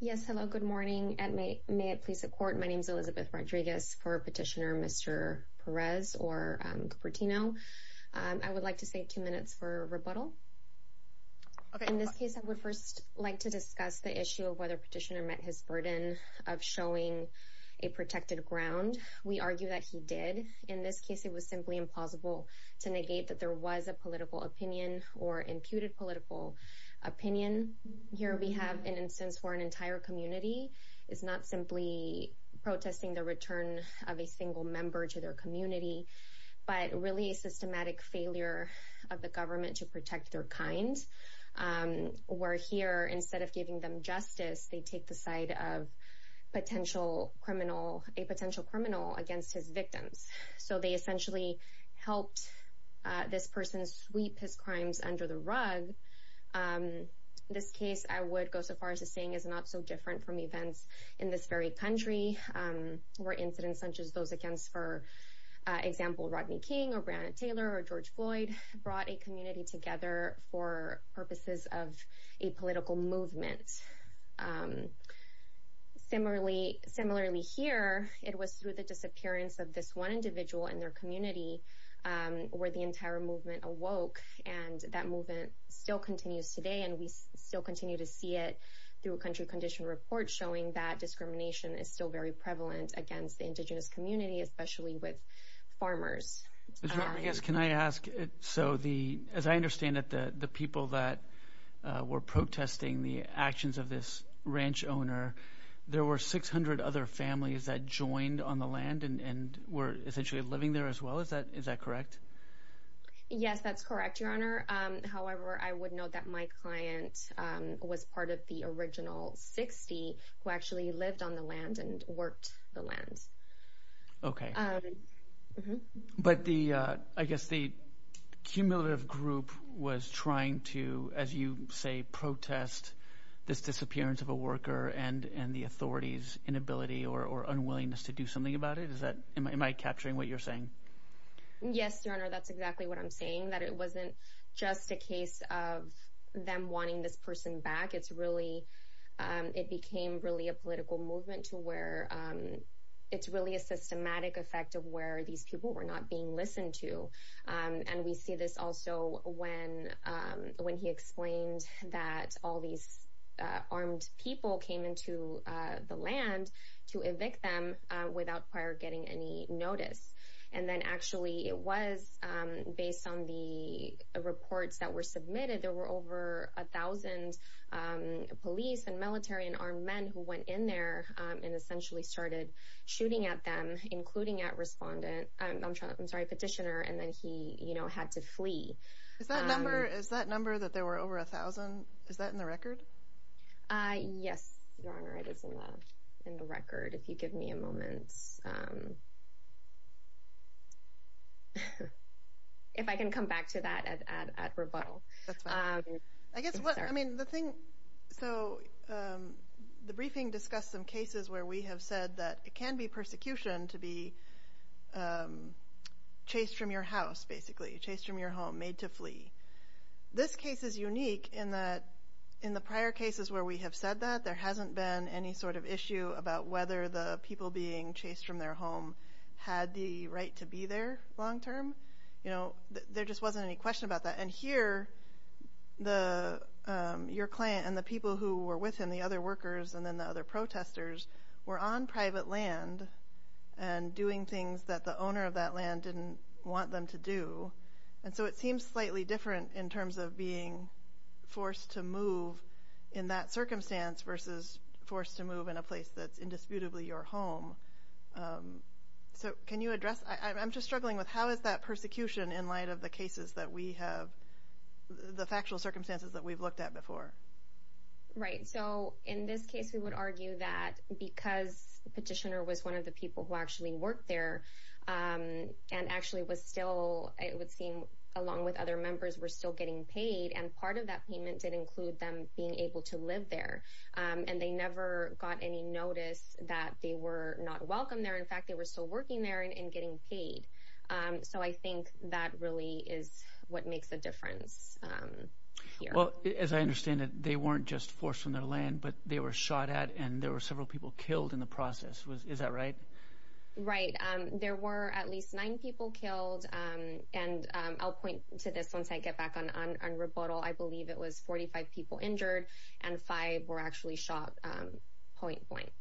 Yes, hello, good morning. May it please the court, my name is Elizabeth Rodriguez for petitioner Mr. Perez or Cupertino. I would like to save two minutes for rebuttal. In this case I would first like to discuss the issue of whether petitioner met his burden of showing a protected ground. We argue that he did. In this case it was simply implausible to negate that there was a political opinion. Here we have an instance where an entire community is not simply protesting the return of a single member to their community, but really a systematic failure of the government to protect their kind. We're here, instead of giving them justice, they take the side of a potential criminal against his victims. So they essentially helped this person sweep his crimes under the rug. This case I would go so far as to saying is not so different from events in this very country, where incidents such as those against, for example, Rodney King or Breonna Taylor or George Floyd brought a community together for purposes of a political movement. Similarly here, it was through the disappearance of this one that movement still continues today and we still continue to see it through a country condition report showing that discrimination is still very prevalent against the indigenous community, especially with farmers. Can I ask, so as I understand it, the people that were protesting the actions of this ranch owner, there were 600 other families that joined on the land and were essentially living there as well, is that correct? Yes, that's correct, Your Honor. However, I would note that my client was part of the original 60 who actually lived on the land and worked the land. But I guess the cumulative group was trying to, as you say, protest this disappearance of a worker and the authorities' inability or unwillingness to do something about it? Am I capturing what you're saying? Yes, Your Honor, that's exactly what I'm saying, that it wasn't just a case of them wanting this person back. It's really, it became really a political movement to where it's really a systematic effect of where these people were not being listened to. And we see this also when he explained that all these armed people came into the land to evict them without prior getting any notice. And then actually it was based on the reports that were submitted, there were over a thousand police and military and armed men who went in there and essentially started shooting at them, including at respondent, I'm sorry, petitioner, and then he, you know, had to flee. Is that number, is that number that there were over a thousand, is that in the record? Yes, Your Honor, it is in the record. If you give me a moment. If I can come back to that at rebuttal. I guess what, I mean, the thing, so the briefing discussed some cases where we have said that it can be persecution to be chased from your house, basically, chased from your home, made to flee. This case is unique in that in the prior cases where we have said that, there hasn't been any sort of issue about whether the people being chased from their home had the right to be there long term. You know, there just wasn't any question about that. And here, your client and the people who were with him, the other workers, and then the other protesters, were on private land and doing things that the owner of that land didn't want them to do. And so it seems slightly different in terms of being forced to move in that circumstance versus forced to move in a place that's indisputably your home. So can you address, I'm just struggling with how is that persecution in light of the cases that we have, the factual circumstances that we've looked at before? Right. So in this case, we would argue that because the petitioner was one of the people who actually worked there, and actually was still, it would seem, along with other members were still getting paid. And part of that payment did include them being able to live there. And they never got any notice that they were not welcome there. In fact, they were still working there and getting paid. So I think that really is what makes a difference. Well, as I understand it, they weren't just forced from their land, but they were shot at and there were several people killed in the process. Is that right? Right. There were at least nine people killed. And I'll point to this once I get back on rebuttal. I believe it was 45 people injured and five were actually shot point blank.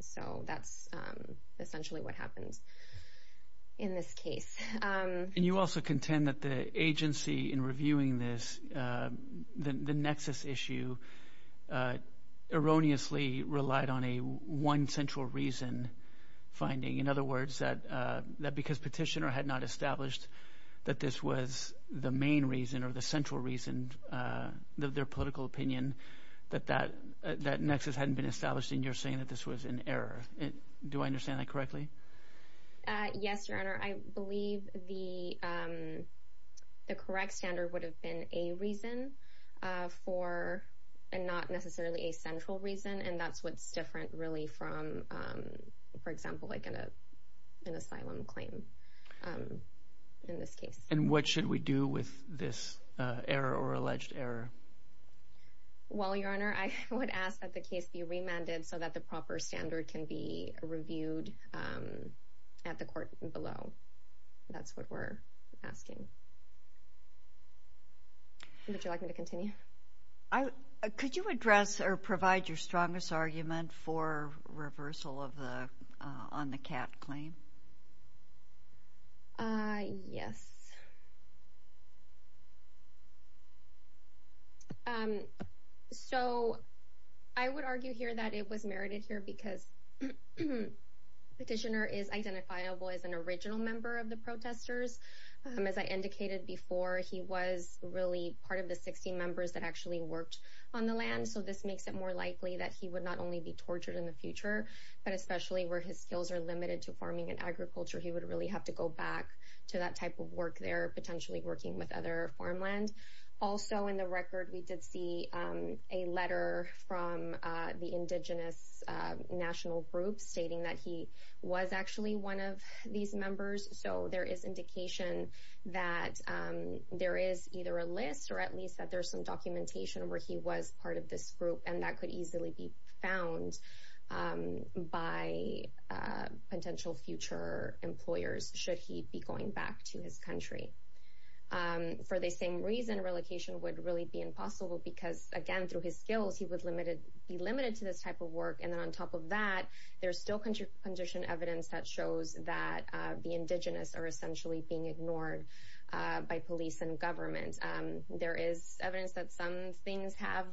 So that's essentially what happened in this case. And you also contend that the agency in reviewing this, the nexus issue, erroneously relied on a one central reason finding. In other words, that because petitioner had not established that this was the main reason or the central reason, their political opinion, that that nexus hadn't been established and you're saying that this was an error. Do I understand that correctly? Yes, Your Honor. I believe the correct standard would have been a reason for and not necessarily a central reason. And that's what's different, really, from, for example, like an asylum claim in this case. And what should we do with this error or alleged error? Well, Your Honor, I would ask that the case be remanded so that the proper standard can be reviewed at the court below. That's what we're asking. Would you like me to continue? Could you address or provide your strongest argument for reversal on the CAT claim? Yes. So I would argue here that it was merited here because the petitioner is identifiable as an original member of the protesters. As I indicated before, he was really part of the 16 members that actually worked on the land. So this makes it more likely that he would not only be tortured in the future, but especially where his skills are limited to farming and agriculture, he would really have to go back to that type of work there, potentially working with other farmland. Also, in the record, we did see a letter from the Indigenous National Group stating that he was actually one of these members. So there is indication that there is either a list or at least that there's some documentation where he was part of this group and that could easily be found by potential future employers should he be going back to his country. For the same reason, relocation would really be impossible because, again, through his skills, he would be limited to this type of work. And then on top of that, there's still condition evidence that shows that the Indigenous are essentially being ignored by police and government. There is evidence that some things have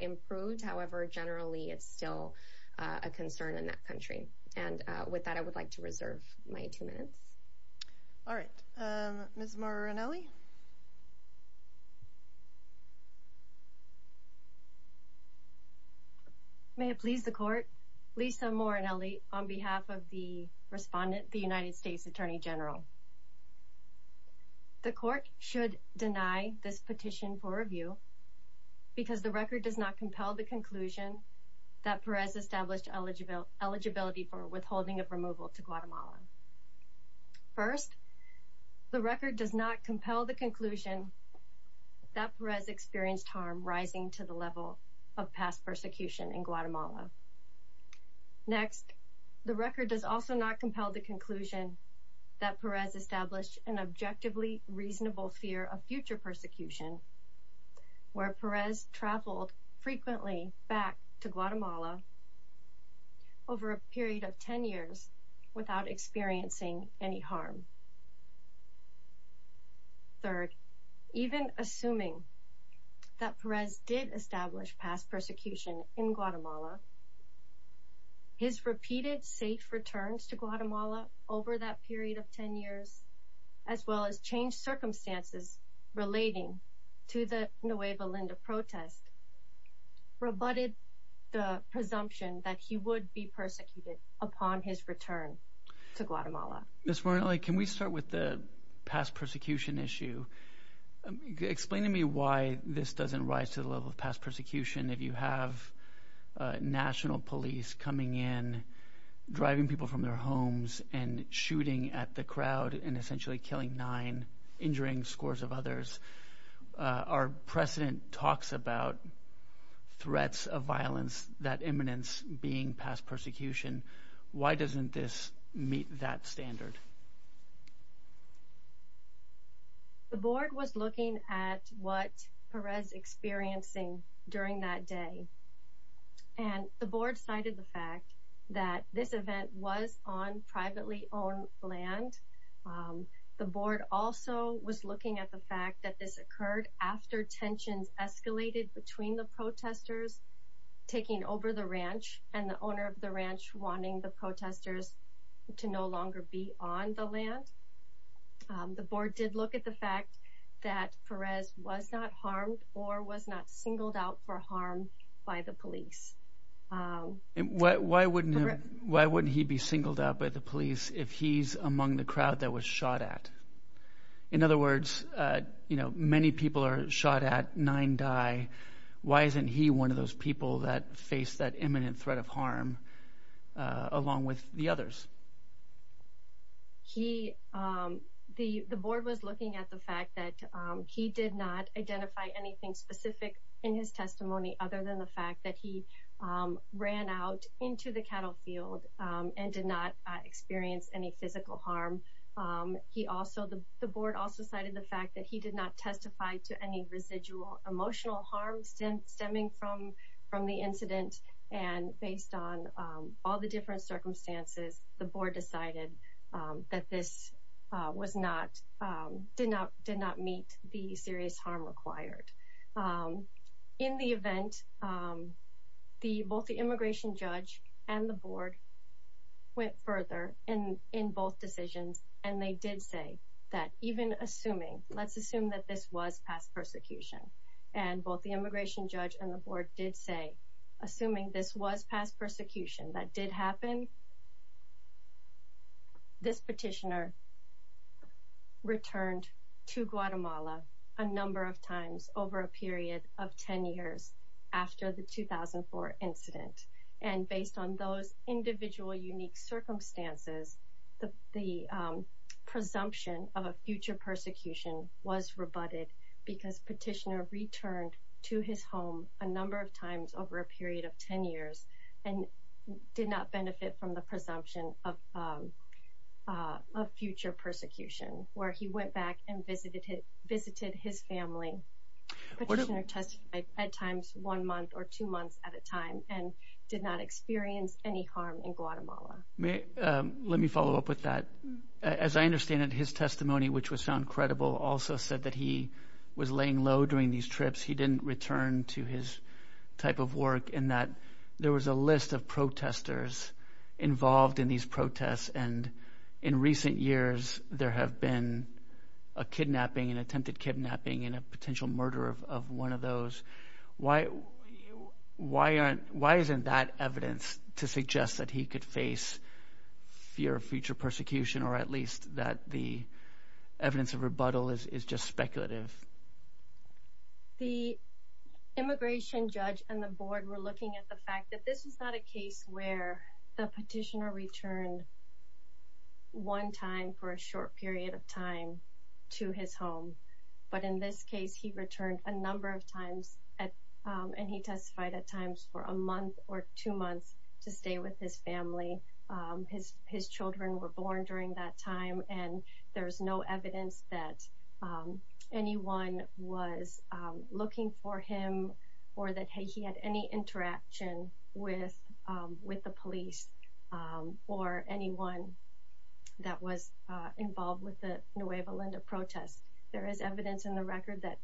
improved. However, generally, it's still a concern in that country. And with that, I would like to reserve my two minutes. All right, Ms. Morronelli. May it please the court. Lisa Morronelli on behalf of the respondent, the United States. The court should deny this petition for review because the record does not compel the conclusion that Perez established eligibility for withholding of removal to Guatemala. First, the record does not compel the conclusion that Perez experienced harm rising to the level of past persecution in Guatemala. Next, the record does also not compel the conclusion that Perez established an objectively reasonable fear of future persecution, where Perez traveled frequently back to Guatemala over a period of 10 years without experiencing any harm. Third, even assuming that Perez did establish past persecution in Guatemala, his repeated safe returns to Guatemala over that as well as changed circumstances relating to the Nueva Linda protest, rebutted the presumption that he would be persecuted upon his return to Guatemala. Ms. Morronelli, can we start with the past persecution issue? Explain to me why this doesn't rise to the level of past persecution. If you have national police coming in, driving people from their homes and shooting at the crowd and essentially killing nine, injuring scores of others, our precedent talks about threats of violence, that imminence being past persecution. Why doesn't this meet that standard? The board was looking at what Perez experiencing during that day, and the board also was looking at the fact that this occurred after tensions escalated between the protesters taking over the ranch and the owner of the ranch wanting the protesters to no longer be on the land. The board did look at the fact that Perez was not harmed or was not singled out for harm by the police. And why wouldn't he be singled out by the police if he's among the crowd that was shot at? In other words, many people are shot at, nine die. Why isn't he one of those people that face that imminent threat of harm along with the others? The board was looking at the fact that he did not identify anything specific in his testimony other than the fact that he ran out into the cattle field and did not experience any physical harm He also, the board also cited the fact that he did not testify to any residual emotional harm stemming from the incident. And based on all the different circumstances, the board decided that this did not meet the serious harm required. In the event, both the immigration judge and the board went further in both decisions. And they did say that even assuming, let's assume that this was past persecution. And both the immigration judge and the board did say, assuming this was past persecution, that did happen. This petitioner returned to Guatemala a number of times over a period of 10 years after the individual unique circumstances, the presumption of a future persecution was rebutted because petitioner returned to his home a number of times over a period of 10 years and did not benefit from the presumption of future persecution where he went back and visited his family. Petitioner testified at times one month or two months at a time and did not experience any harm in Guatemala. Let me follow up with that. As I understand it, his testimony, which was found credible, also said that he was laying low during these trips. He didn't return to his type of work in that there was a list of protesters involved in these protests. And in recent years, there have been a kidnapping and why? Why isn't that evidence to suggest that he could face fear of future persecution, or at least that the evidence of rebuttal is just speculative? The immigration judge and the board were looking at the fact that this is not a case where the petitioner returned one time for a short period of time to his home. But in this case, he returned a number of times, and he testified at times for a month or two months to stay with his family. His children were born during that time, and there's no evidence that anyone was looking for him or that he had any interaction with the police or anyone that was involved with the Nueva Linda protests. There is evidence in the record that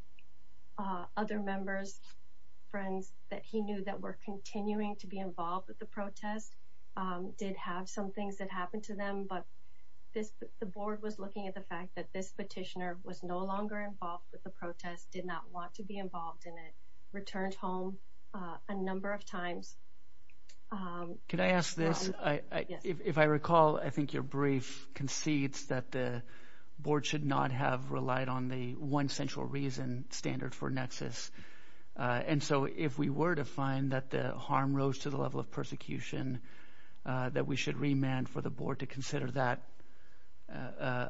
other members, friends, that he knew that were continuing to be involved with the protest did have some things that happened to them. But the board was looking at the fact that this petitioner was no longer involved with the protest, did not want to be involved in it, returned home a number of times. Could I ask this? If I recall, I think your brief concedes that the board should not have relied on the one central reason standard for nexus. And so if we were to find that the harm rose to the level of persecution that we should remand for the board to consider that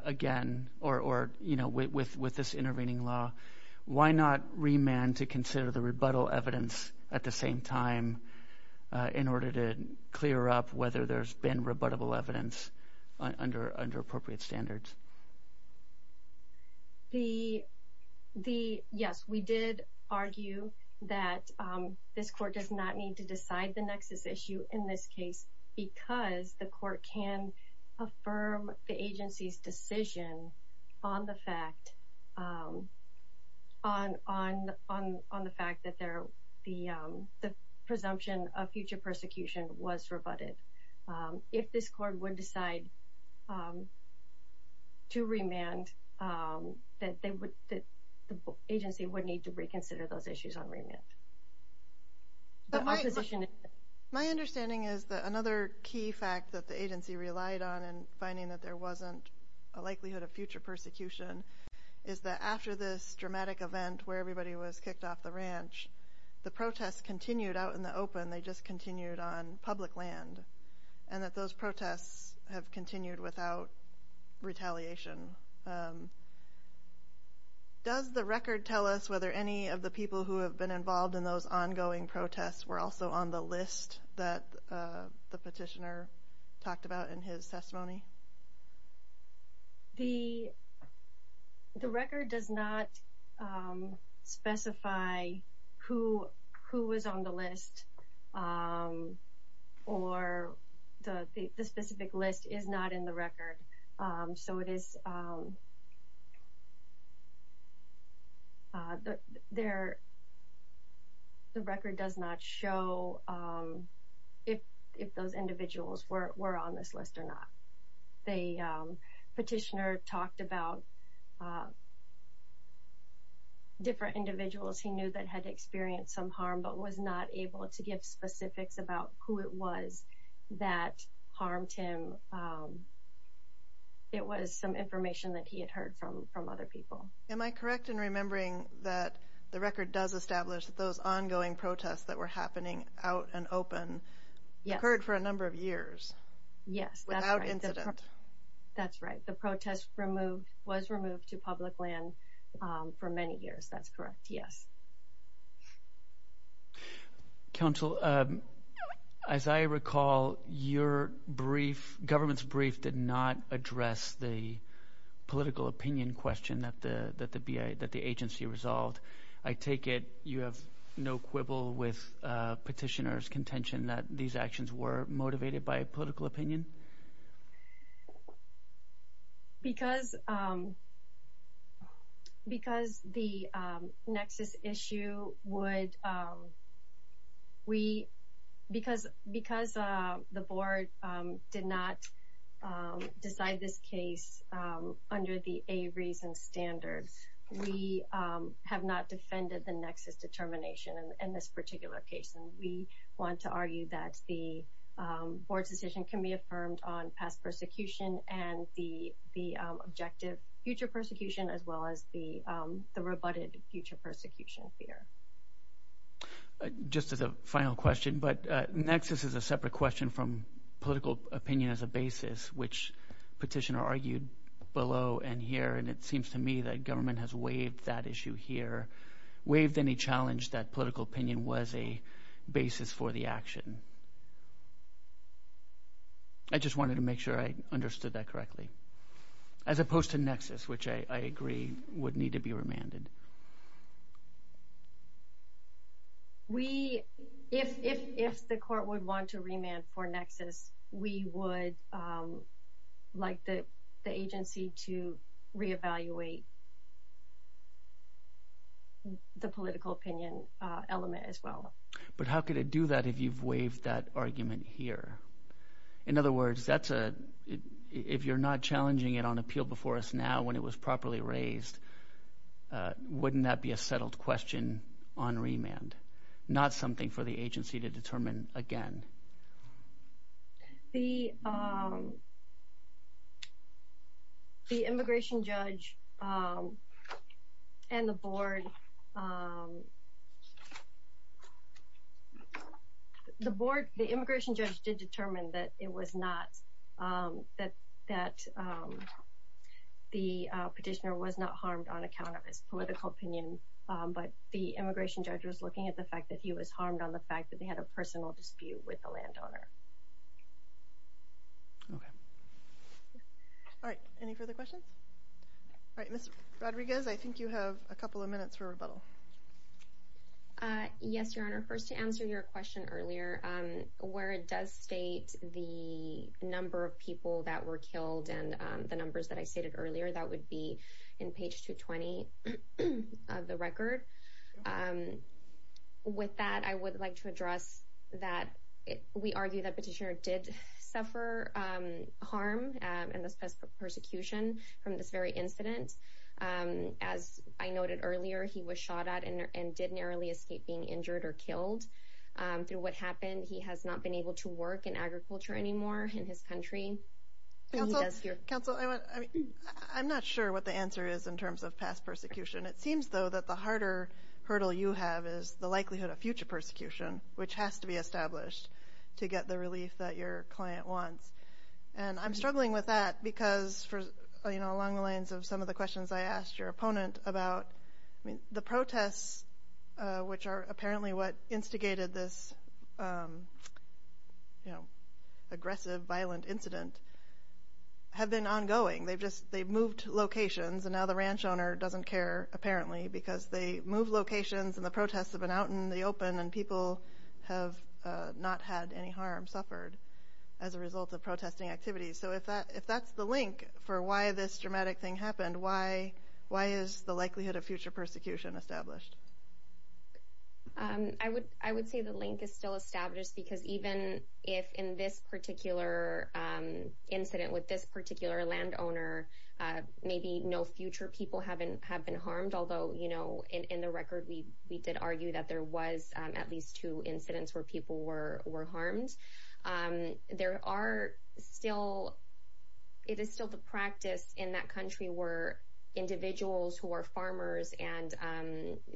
again, or, you know, with with with this intervening law, why not remand to consider the rebuttal evidence at the same time in order to clear up whether there's been rebuttable evidence under under appropriate standards? The the yes, we did argue that this court does not need to decide the nexus issue in this case because the court can affirm the agency's decision on the fact on on on on the fact that there the presumption of future persecution was rebutted. If this court would decide to remand, that they would that the agency would need to reconsider those issues on remand. My understanding is that another key fact that the agency relied on and finding that there wasn't a likelihood of future persecution is that after this dramatic event where everybody was kicked off the ranch, the protests continued out in the open, they just continued on public land, and that those protests have continued without retaliation. Does the record tell us whether any of the people who have been involved in those ongoing protests were also on the list that the petitioner talked about in his testimony? The the record does not specify who who was on the list or the specific list is not in the record, so it is there the record does not show if if those individuals were on this list or not. The petitioner talked about different individuals he knew that had experienced some harm but was not able to give specifics about who it was that harmed him. It was some information that he had heard from from other people. Am I correct in remembering that the record does establish that those ongoing protests that were happening out and open occurred for a number of years without incident? Yes, that's right. The protest was removed to public land for many years, that's correct, yes. Counsel, as I recall your brief, government's brief, did not address the political opinion question that the agency resolved. I take it you have no quibble with petitioner's contention that these actions were motivated by a political opinion? Because because the nexus issue would we because because the board did not decide this case under the a reason standards, we have not defended the nexus determination in this particular case and we want to argue that the board's decision can be affirmed on past persecution and the the objective future persecution as well as the the rebutted future persecution fear. Just as a final question, but nexus is a separate question from political opinion as a basis which petitioner argued below and here and it seems to me that government has waived that issue here, waived any challenge that political opinion was a basis for the action. I just wanted to make sure I understood that correctly. As opposed to nexus, which I agree would need to be remanded. We, if the court would want to remand for nexus, we would like the agency to reevaluate the political opinion element as well. But how could it do that if you've waived that argument here? In other words, that's a if you're not challenging it on appeal before us now when it was properly raised, wouldn't that be a The immigration judge and the board, the board, the immigration judge did determine that it was not that that the petitioner was not harmed on account of his political opinion, but the immigration judge was looking at the with the landowner. Okay. All right. Any further questions? All right, Mr. Rodriguez, I think you have a couple of minutes for rebuttal. Yes, Your Honor. First to answer your question earlier, where it does state the number of people that were killed and the numbers that I stated earlier, that would be in page 220 of the record. Um, with that, I would like to address that. We argue that petitioner did suffer harm and this pest persecution from this very incident. Um, as I noted earlier, he was shot at and did narrowly escape being injured or killed through what happened. He has not been able to work in agriculture anymore in his country. Counsel, I'm not sure what the answer is in terms of past persecution. It seems though that the harder hurdle you have is the likelihood of future persecution, which has to be established to get the relief that your client wants. And I'm struggling with that because for, you know, along the lines of some of the questions I asked your opponent about the protests, which are apparently what instigated this, um, you know, aggressive, violent incident have been ongoing. They've just they've moved locations and now the ranch owner doesn't care, apparently because they move locations and the protests have been out in the open and people have not had any harm suffered as a result of protesting activities. So if that if that's the link for why this dramatic thing happened, why? Why is the likelihood of future persecution established? Um, I would I would say the link is still established because even if in this particular incident with this particular land owner, maybe no future people haven't have been harmed, although you know, in the record, we did argue that there was at least two incidents where people were harmed. There are still it is still the practice in that country where individuals who are farmers and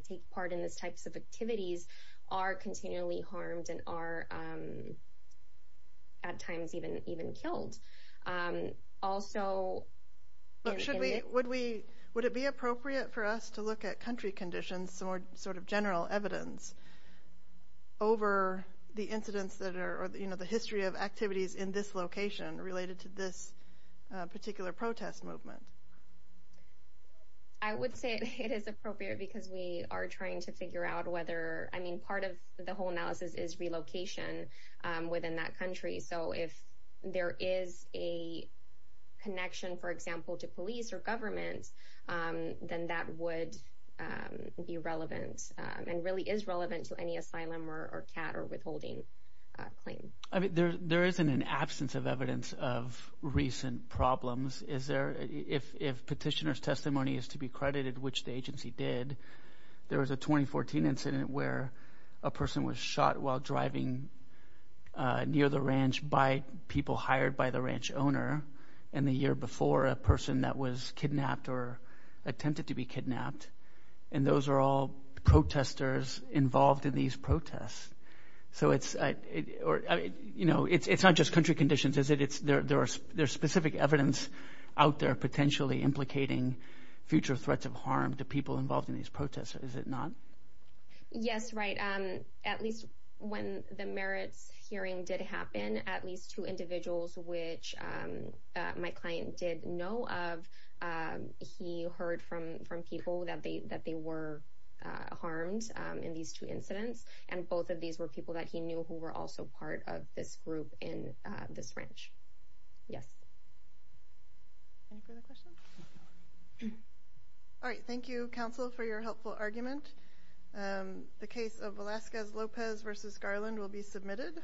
take part in this types of activities are continually harmed and are, um, at times even even killed. Um, also, should we? Would we? Would it be appropriate for us to look at country conditions? Some sort of general evidence over the incidents that are, you know, the history of activities in this location related to this particular protest movement? I would say it is appropriate because we are trying to figure out whether I mean, part of the whole analysis is relocation within that country. So if there is a connection, for example, to police or government, um, then that would, um, be relevant and really is relevant to any asylum or cat or withholding claim. I mean, there isn't an absence of evidence of recent problems. Is there? If petitioner's testimony is to be credited, which the a person was shot while driving near the ranch by people hired by the ranch owner and the year before a person that was kidnapped or attempted to be kidnapped. And those are all protesters involved in these protests. So it's, you know, it's not just country conditions, is it? It's there. There's there's specific evidence out there potentially implicating future threats of harm to people involved in these protests. Is it not? Yes, right. Um, at least when the merits hearing did happen, at least two individuals, which my client did know of, he heard from from people that they that they were harmed in these two incidents. And both of these were people that he knew who were also part of this group in this ranch. Yes. Any further questions? Mhm. All right. Thank you, Counsel, for your helpful argument. Um, the case of Alaska's Lopez versus Garland will be submitted.